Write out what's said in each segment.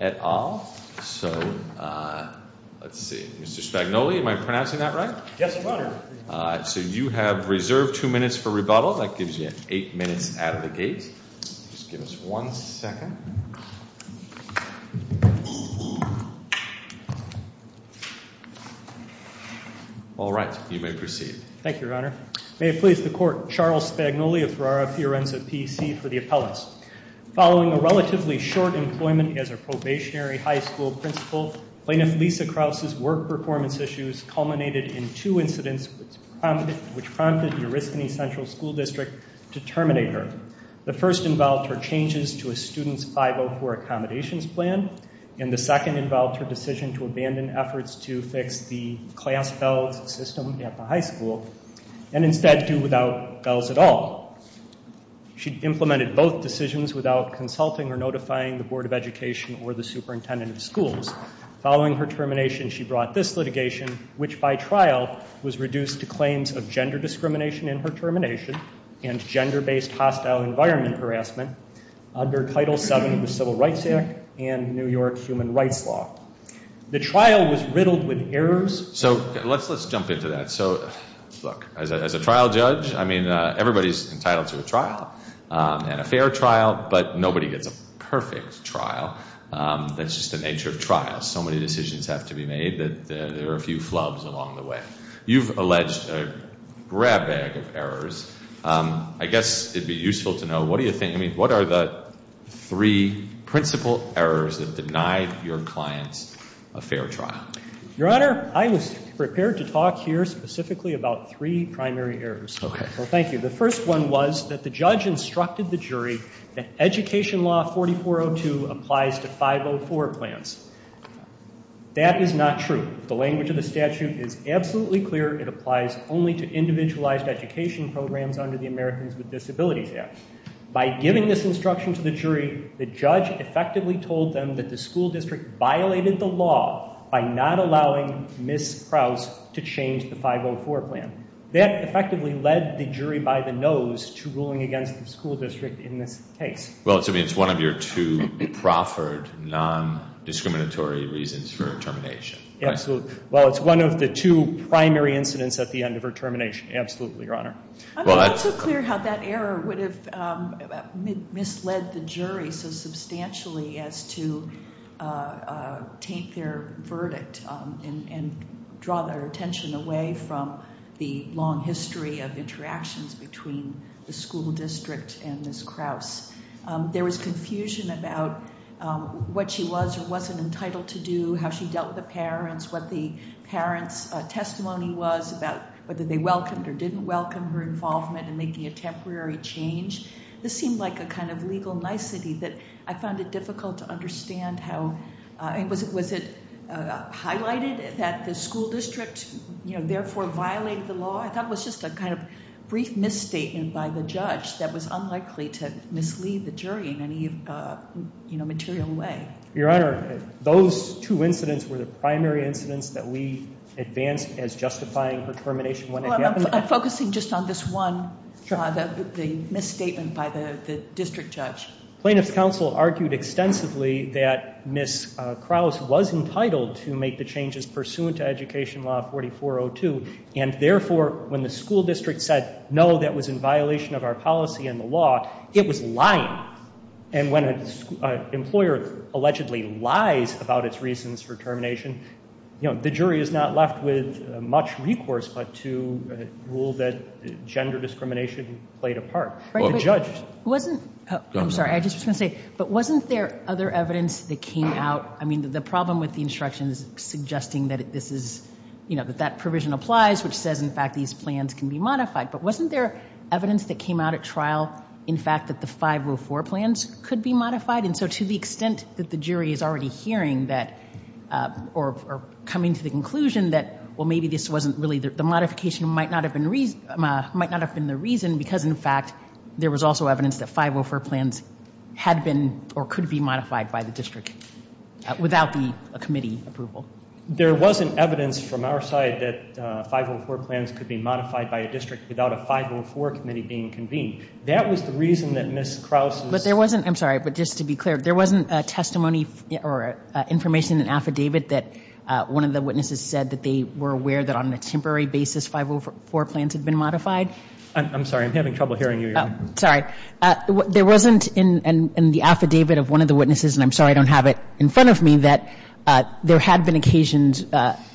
at all. So, let's see, Mr. Spagnoli, am I pronouncing that right? Yes, Your Honor. So you have reserved two minutes for rebuttal. That gives you eight minutes out of the gate. Just give us one second. All right, you may proceed. Thank you, Your Honor. May it please the Court, Charles Spagnoli of Ferrara-Fiorenzo, California, please. I'm a lawyer and I work on behalf of the Veterans of PEC for the Appellate. Following a relatively short employment as a probationary high school principal, plaintiff Lisa Krause's work performance issues culminated in two incidents which prompted the Uriscony Central School District to terminate her. The first involved her changes to a students 504 accommodation plan and the second involved her decision to abandon efforts to fix the class bell system at the high school and instead do without bells at all. She implemented both decisions without consulting or notifying the Board of Education or the superintendent of schools. Following her termination, she brought this litigation which by trial was reduced to claims of gender discrimination in her termination and gender-based hostile environment harassment under Title VII of the Civil Rights Act and New York Human Rights Law. The trial was riddled with errors. So let's jump into that. So look, as a trial judge, I mean, everybody's entitled to a trial and a fair trial, but nobody gets a perfect trial. That's just the nature of trials. So many decisions have to be made that there are a few flubs along the way. You've alleged a grab bag of errors. I guess it'd be useful to know, what do you think, I mean, what are the three principal errors that denied your clients a fair trial? Your Honor, I was prepared to talk here specifically about three primary errors. Well, thank you. The first one was that the judge instructed the jury that Education Law 4402 applies to 504 plans. That is not true. The language of the statute is absolutely clear. It applies only to individualized education programs under the Americans with Disabilities Act. By giving this instruction to the jury, the judge effectively told them that the school district violated the law by not allowing Ms. Krause to change the 504 plan. That effectively led the jury by the nose to ruling against the school district in this case. Well, it's one of your two proffered, non-discriminatory reasons for termination. Absolutely. Well, it's one of the two primary incidents at the end of her termination. Absolutely, Your Honor. I mean, it's so clear how that error would have misled the jury so substantially as to take their verdict and draw their attention away from the long history of interactions between the school district and Ms. Krause. There was confusion about what she was or wasn't entitled to do, how she dealt with the parents, what the parents' testimony was about whether they welcomed or didn't welcome her involvement in making a temporary change. This seemed like a kind of legal nicety that I found it difficult to understand. Was it highlighted that the school district therefore violated the law? I thought it was just a kind of brief misstatement by the judge that was unlikely to mislead the jury in any material way. Your Honor, those two incidents were the primary incidents that we advanced as justifying her termination. I'm focusing just on this one, the misstatement by the district judge. Plaintiff's counsel argued extensively that Ms. Krause was entitled to make the changes pursuant to Education Law 4402 and therefore when the school district said, no, that was in violation of our policy and the law, it was lying. And when an employer allegedly lies about its reasons for termination, the jury is not left with much recourse but to rule that gender discrimination played a part. I'm sorry, I just want to say, but wasn't there other evidence that came out, I mean the problem with the instruction is suggesting that that provision applies which says in fact these plans can be modified, but wasn't there evidence that came out at trial in fact that the 504 plans could be modified? And so to the extent that the jury is already hearing that or coming to the conclusion that, well maybe this wasn't really, the modification might not have been the reason because in fact there was also evidence that 504 plans had been or could be modified by the district without the committee approval. There wasn't evidence from our side that 504 plans could be modified by a district without a 504 committee being convened. That was the reason that Ms. Krause. But there wasn't, I'm sorry, but just to be clear, there wasn't testimony or information in an affidavit that one of the witnesses said that they were aware that on a temporary basis 504 plans had been modified? I'm sorry, I'm having trouble hearing you. Sorry. There wasn't in the affidavit of one of the witnesses, and I'm sorry I don't have it in front of me, that there had been occasions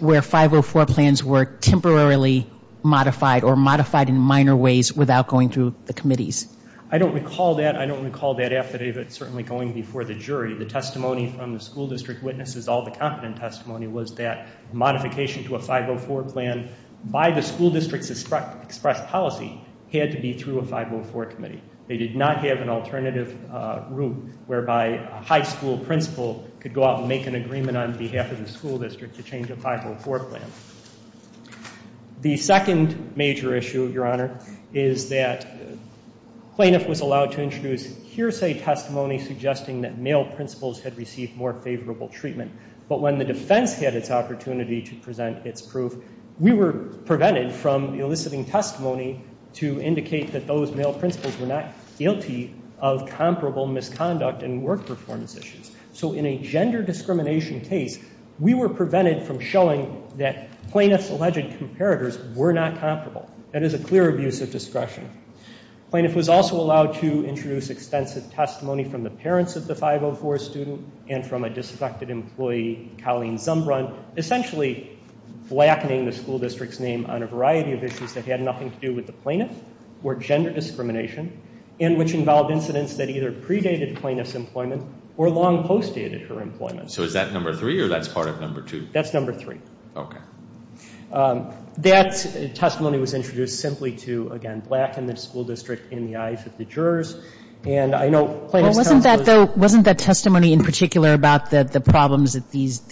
where 504 plans were temporarily modified or modified in minor ways without going through the committees? I don't recall that. I don't recall that affidavit certainly going before the jury. The testimony from the school district witnesses, all the competent testimony, was that modification to a 504 plan by the school district's express policy had to be through a 504 committee. They did not have an alternative route whereby a high school principal could go out and make an agreement on behalf of the school district to change a 504 plan. The second major issue, Your Honor, is that plaintiff was allowed to introduce hearsay testimony suggesting that male principals had received more favorable treatment, but when the defense had its opportunity to present its proof, we were prevented from eliciting testimony to indicate that those male principals were not guilty of comparable misconduct and work performance issues. So in a gender discrimination case, we were prevented from showing that plaintiff's alleged comparators were not comparable. That is a clear abuse of discretion. Plaintiff was also allowed to introduce extensive testimony from the parents of the 504 student and from a disaffected employee, Colleen Zumbrun, essentially blackening the school district's name on a variety of issues that had nothing to do with the plaintiff or gender discrimination and which involved incidents that either predated plaintiff's employment or long post-dated her employment. So is that number three or that's part of number two? That's number three. Okay. That testimony was introduced simply to, again, blacken the school district in the eyes of the jurors. And I know plaintiff's counsel is... Wasn't that testimony in particular about the problems that these,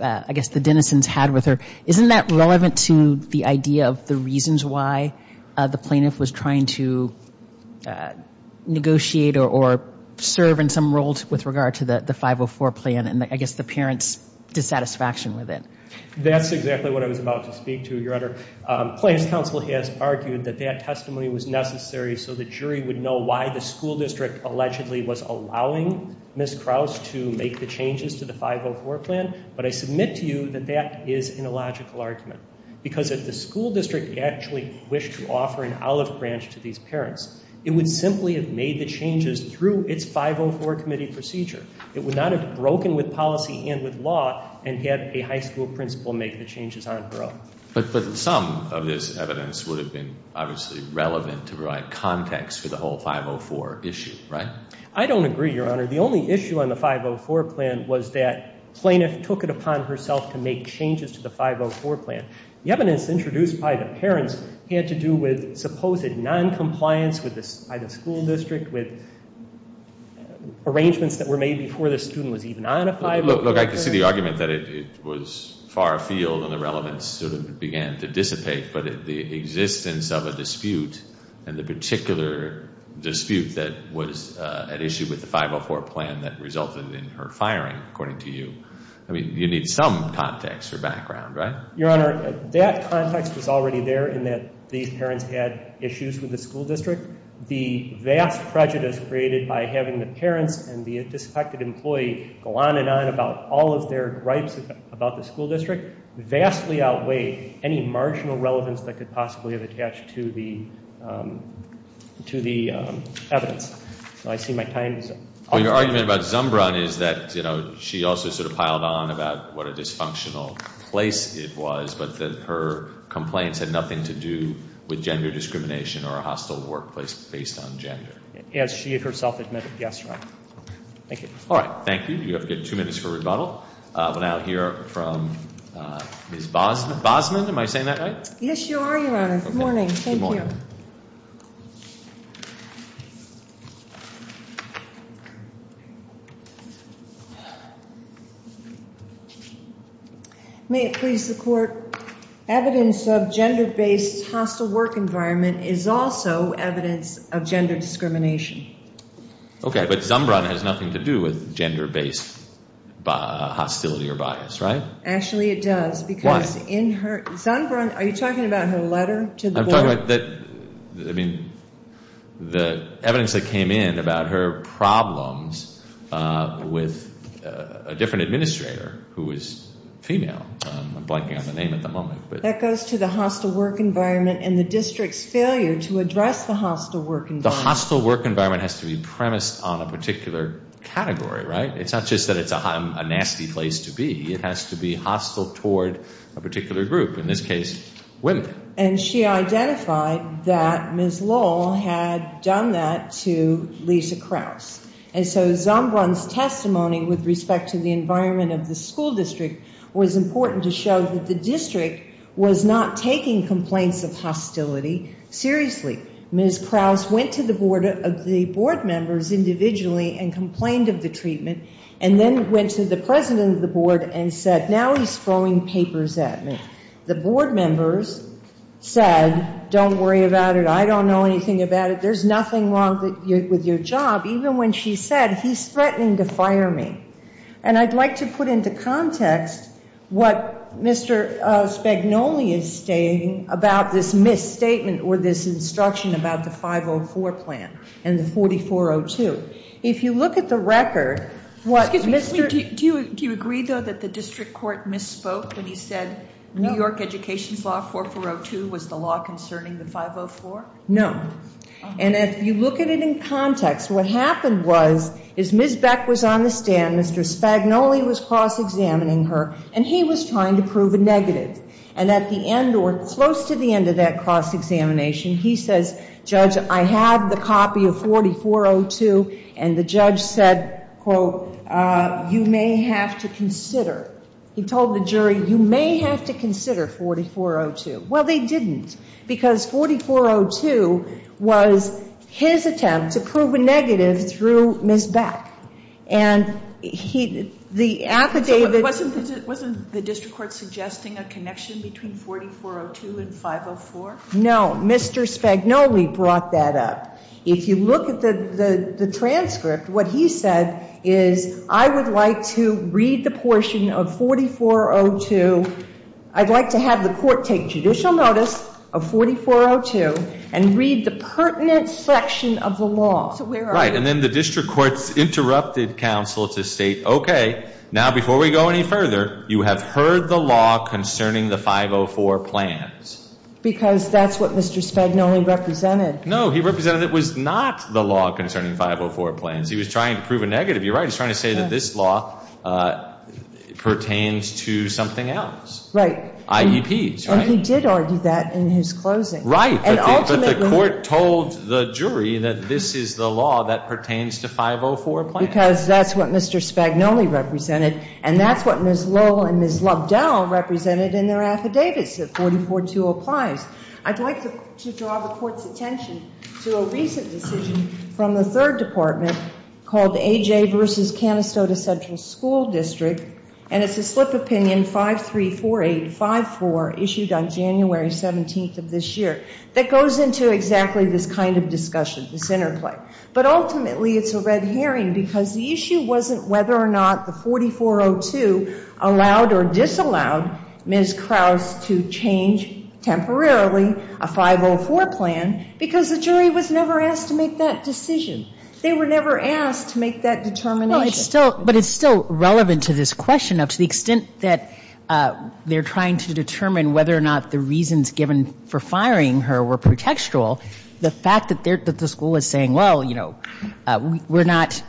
I guess the denizens had with her, isn't that relevant to the idea of the reasons why the plaintiff was trying to negotiate or serve in some roles with regard to the 504 plan and I guess the parents' dissatisfaction with it? That's exactly what I was about to speak to, Your Honor. Plaintiff's counsel has argued that that testimony was necessary so the jury would know why the school district allegedly was allowing Ms. Krause to make the changes to the 504 plan. But I submit to you that that is an illogical argument because if the school district actually wished to offer an olive branch to these parents, it would simply have made the changes through its 504 committee procedure. It would not have broken with policy and with law and had a high school principal make the changes on her own. But some of this evidence would have been obviously relevant to provide context for the whole 504 issue, right? I don't agree, Your Honor. The only issue on the 504 plan was that plaintiff took it upon herself to make changes to the 504 plan. The evidence introduced by the parents had to do with supposed noncompliance by the school district with arrangements that were made before the student was even on a 504 plan. Look, I can see the argument that it was far afield and the relevance sort of began to dissipate, but the existence of a dispute and the particular dispute that was at issue with the 504 plan that resulted in her firing, according to you. I mean, you need some context or background, right? Your Honor, that context was already there in that these parents had issues with the school district. The vast prejudice created by having the parents and the disaffected employee go on and on about all of their gripes about the school district vastly outweighed any marginal relevance that could possibly have attached to the evidence. So I see my time is up. Your argument about Zumbrun is that, you know, she also sort of piled on about what a dysfunctional place it was, but that her complaints had nothing to do with gender discrimination or a hostile workplace based on gender. As she herself admitted, yes, Your Honor. Thank you. All right, thank you. You have two minutes for rebuttal. We'll now hear from Ms. Bosman. Bosman, am I saying that right? Yes, you are, Your Honor. Good morning. Thank you. May it please the Court. Evidence of gender-based hostile work environment is also evidence of gender discrimination. OK, but Zumbrun has nothing to do with gender-based hostility or bias, right? Actually, it does. Why? Because in her, Zumbrun, are you talking about her letter to the board? I'm talking about, I mean, the evidence that came in about her problems with a different administrator who is female. I'm blanking on the name at the moment. That goes to the hostile work environment and the district's failure to address the hostile work environment. The hostile work environment has to be premised on a particular category, right? It's not just that it's a nasty place to be. It has to be hostile toward a particular group, in this case, women. And she identified that Ms. Lowell had done that to Lisa Krause. And so Zumbrun's testimony with respect to the environment of the school district was important to show that the district was not taking complaints of hostility seriously. Ms. Krause went to the board members individually and complained of the treatment and then went to the president of the board and said, now he's throwing papers at me. The board members said, don't worry about it. I don't know anything about it. There's nothing wrong with your job. Even when she said, he's threatening to fire me. And I'd like to put into context what Mr. Spagnoli is stating about this misstatement or this instruction about the 504 plan and the 4402. If you look at the record, what Mr. Excuse me. Do you agree, though, that the district court misspoke when he said New York education's law, 4402, was the law concerning the 504? No. And if you look at it in context, what happened was, is Ms. Beck was on the stand. Mr. Spagnoli was cross-examining her. And he was trying to prove a negative. And at the end or close to the end of that cross-examination, he says, Judge, I have the copy of 4402. And the judge said, quote, you may have to consider. He told the jury, you may have to consider 4402. Well, they didn't. Because 4402 was his attempt to prove a negative through Ms. Beck. And the affidavit Wasn't the district court suggesting a connection between 4402 and 504? No. Mr. Spagnoli brought that up. If you look at the transcript, what he said is, I would like to read the portion of 4402. I'd like to have the court take judicial notice of 4402 and read the pertinent section of the law. Right. And then the district courts interrupted counsel to state, okay, now, before we go any further, you have heard the law concerning the 504 plans. Because that's what Mr. Spagnoli represented. No. He represented it was not the law concerning 504 plans. He was trying to prove a negative. You're right. He was trying to say that this law pertains to something else. Right. IEPs. And he did argue that in his closing. Right. But the court told the jury that this is the law that pertains to 504 plans. Because that's what Mr. Spagnoli represented. And that's what Ms. Lowell and Ms. Lubdell represented in their affidavits that 4402 applies. I'd like to draw the court's attention to a recent decision from the third department called AJ versus Canastota Central School District. And it's a slip opinion, 534854, issued on January 17th of this year, that goes into exactly this kind of discussion, this interplay. But ultimately it's a red herring because the issue wasn't whether or not the 4402 allowed or disallowed Ms. Krause to change temporarily a 504 plan because the jury was never asked to make that decision. They were never asked to make that determination. But it's still relevant to this question up to the extent that they're trying to determine whether or not the reasons given for firing her were pretextual. The fact that the school was saying, well, you know, we're not,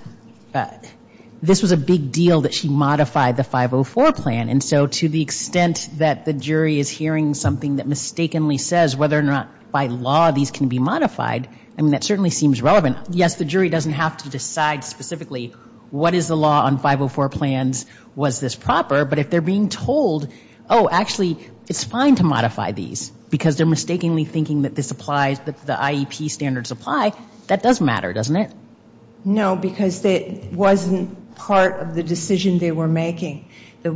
this was a big deal that she modified the 504 plan. And so to the extent that the jury is hearing something that mistakenly says whether or not by law these can be modified, I mean, that certainly seems relevant. Yes, the jury doesn't have to decide specifically what is the law on 504 plans? Was this proper? But if they're being told, oh, actually, it's fine to modify these because they're mistakenly thinking that this applies, that the IEP standards apply, that does matter, doesn't it? No, because it wasn't part of the decision they were making. The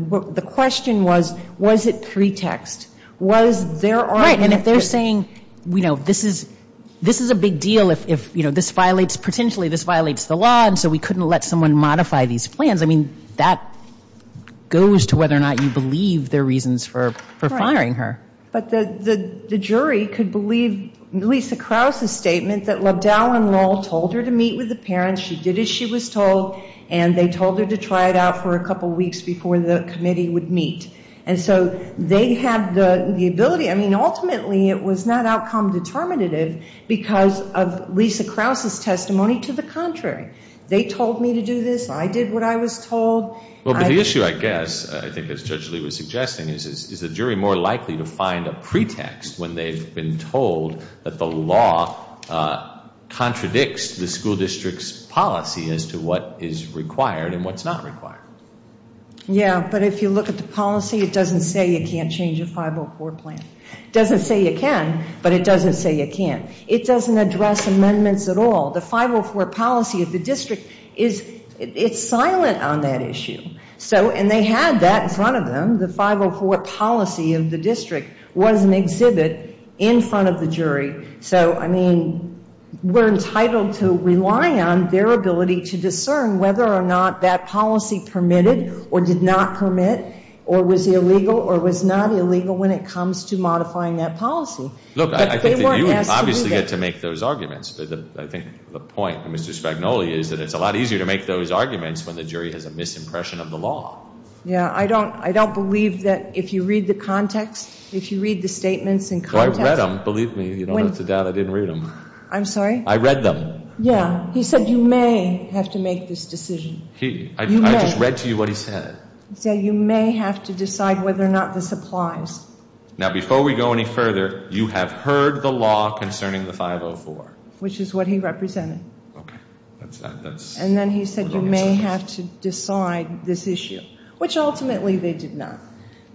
question was, was it pretext? Was there argument? Right. And if they're saying, you know, this is a big deal if, you know, this violates potentially, this violates the law, and so we couldn't let someone modify these plans, I mean, that goes to whether or not you believe there are reasons for firing her. But the jury could believe Lisa Krause's statement that Lobdow and Loll told her to meet with the parents, she did as she was told, and they told her to try it out for a couple weeks before the committee would meet. And so they had the ability, I mean, ultimately, it was not outcome determinative because of Lisa Krause's testimony. To the contrary, they told me to do this, I did what I was told. Well, but the issue, I guess, I think as Judge Lee was suggesting, is the jury more likely to find a pretext when they've been told that the law contradicts the school district's policy as to what is required and what's not required. Yeah, but if you look at the policy, it doesn't say you can't change a 504 plan. It doesn't say you can, but it doesn't say you can't. It doesn't address amendments at all. The 504 policy of the district is, it's silent on that issue. So, and they had that in front of them. The 504 policy of the district was an exhibit in front of the jury. So, I mean, we're entitled to rely on their ability to discern whether or not that policy permitted or did not permit or was illegal or was not illegal when it comes to modifying that policy. Look, I think you would obviously get to make those arguments. I think the point of Mr. Spagnoli is that it's a lot easier to make those arguments when the jury has a misimpression of the law. Yeah, I don't believe that if you read the context, if you read the statements in context. I read them, believe me. You don't have to doubt I didn't read them. I'm sorry? I read them. Yeah. He said you may have to make this decision. He? I just read to you what he said. He said you may have to decide whether or not this applies. Now, before we go any further, you have heard the law concerning the 504. Which is what he represented. Okay. And then he said you may have to decide this issue, which ultimately they did not.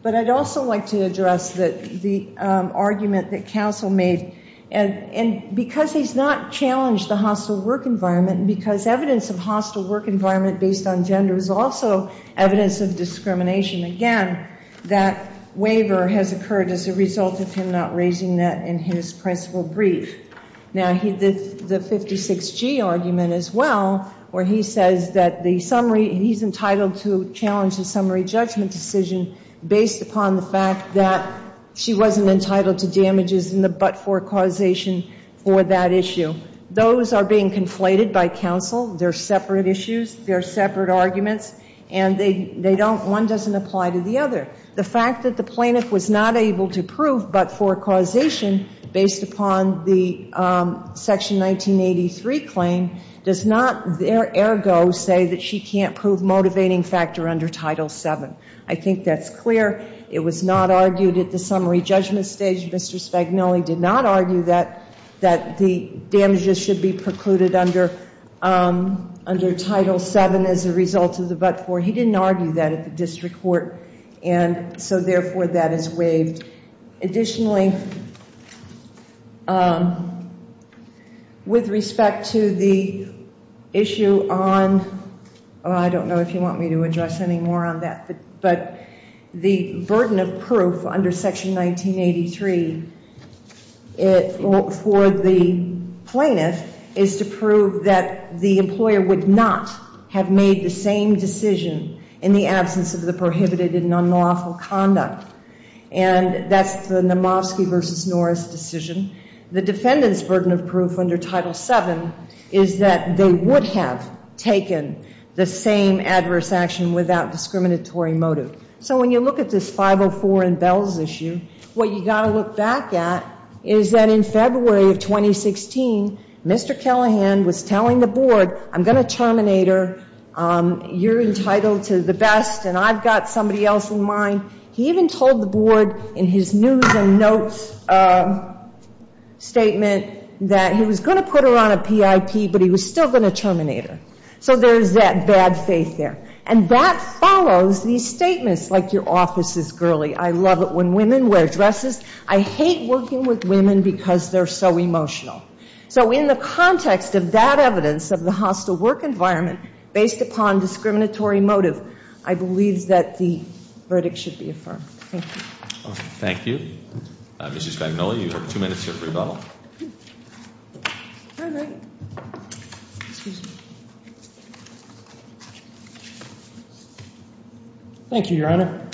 But I'd also like to address the argument that counsel made. And because he's not challenged the hostile work environment, because evidence of hostile work environment based on gender is also evidence of discrimination, again, that waiver has occurred as a result of him not raising that in his principle brief. Now, the 56G argument as well, where he says that he's entitled to challenge the summary judgment decision based upon the fact that she wasn't entitled to damages in the but-for causation for that issue. Those are being conflated by counsel. They're separate issues. They're separate arguments. And one doesn't apply to the other. The fact that the plaintiff was not able to prove but-for causation based upon the Section 1983 claim does not, ergo, say that she can't prove motivating factor under Title VII. I think that's clear. It was not argued at the summary judgment stage. Mr. Spagnoli did not argue that the damages should be precluded under Title VII as a result of the but-for. He didn't argue that at the district court. And so, therefore, that is waived. Additionally, with respect to the issue on, I don't know if you want me to address any more on that, but the burden of proof under Section 1983 for the plaintiff is to prove that the employer would not have made the same decision in the absence of the prohibited and unlawful conduct. And that's the Namofsky v. Norris decision. The defendant's burden of proof under Title VII is that they would have taken the same adverse action without discriminatory motive. So when you look at this 504 and Bells issue, what you've got to look back at is that in February of 2016, Mr. Callahan was telling the board, I'm going to terminate her, you're entitled to the best, and I've got somebody else in mind. He even told the board in his news and notes statement that he was going to put her on a PIP, but he was still going to terminate her. So there's that bad faith there. And that follows these statements, like your office is girly, I love it when women wear dresses, I hate working with women because they're so emotional. So in the context of that evidence of the hostile work environment based upon discriminatory motive, I believe that the verdict should be affirmed. Thank you. Thank you. Mrs. Spagnoli, you have 2 minutes to rebuttal. Thank you, Your Honor.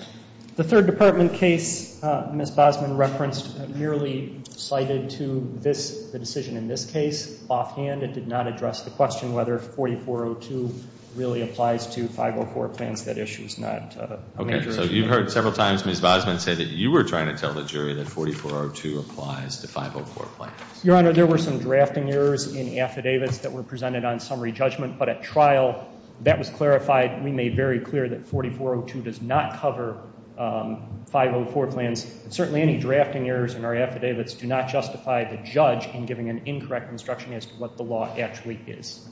The 3rd Department case Ms. Bosman referenced merely cited to the decision in this case. Offhand, it did not address the question whether 4402 really applies to 504 plans. That issue is not a major issue. So you've heard several times Ms. Bosman say that you were trying to tell the jury that 4402 applies to 504 plans. Your Honor, there were some drafting errors in affidavits that were presented on summary judgment, but at trial that was clarified. We made very clear that 4402 does not cover 504 plans. Certainly any drafting errors in our affidavits do not justify the judge in giving an incorrect instruction as to what the law actually is.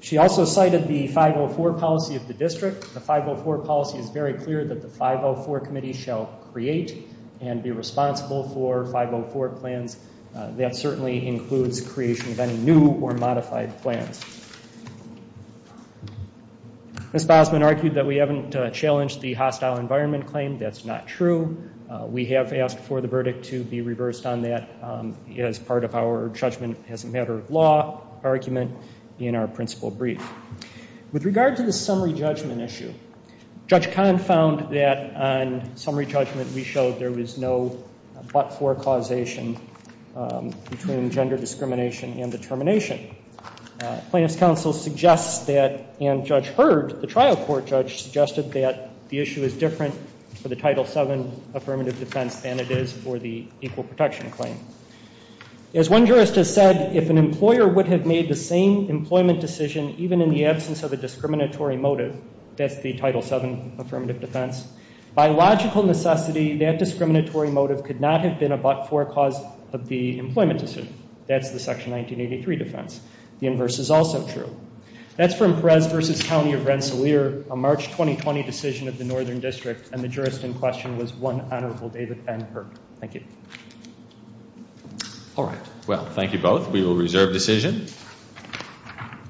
She also cited the 504 policy of the district. The 504 policy is very clear that the 504 committee shall create and be responsible for 504 plans. That certainly includes creation of any new or modified plans. Ms. Bosman argued that we haven't challenged the hostile environment claim. That's not true. We have asked for the verdict to be reversed on that as part of our judgment as a matter of law argument in our principle brief. With regard to the summary judgment issue, Judge Kahn found that on summary judgment we showed there was no but-for causation between gender discrimination and determination. Plaintiff's counsel suggests that, and Judge Hurd, the trial court judge, suggested that the issue is different for the Title VII affirmative defense than it is for the equal protection claim. As one jurist has said, if an employer would have made the same employment decision even in the absence of a discriminatory motive, that's the Title VII affirmative defense, by logical necessity, that discriminatory motive could not have been a but-for cause of the employment decision. That's the Section 1983 defense. The inverse is also true. That's from Perez v. County of Rensselaer, a March 2020 decision of the Northern District, and the jurist in question was one honorable David Van Hurk. Thank you. All right. Well, thank you both. We will reserve decision.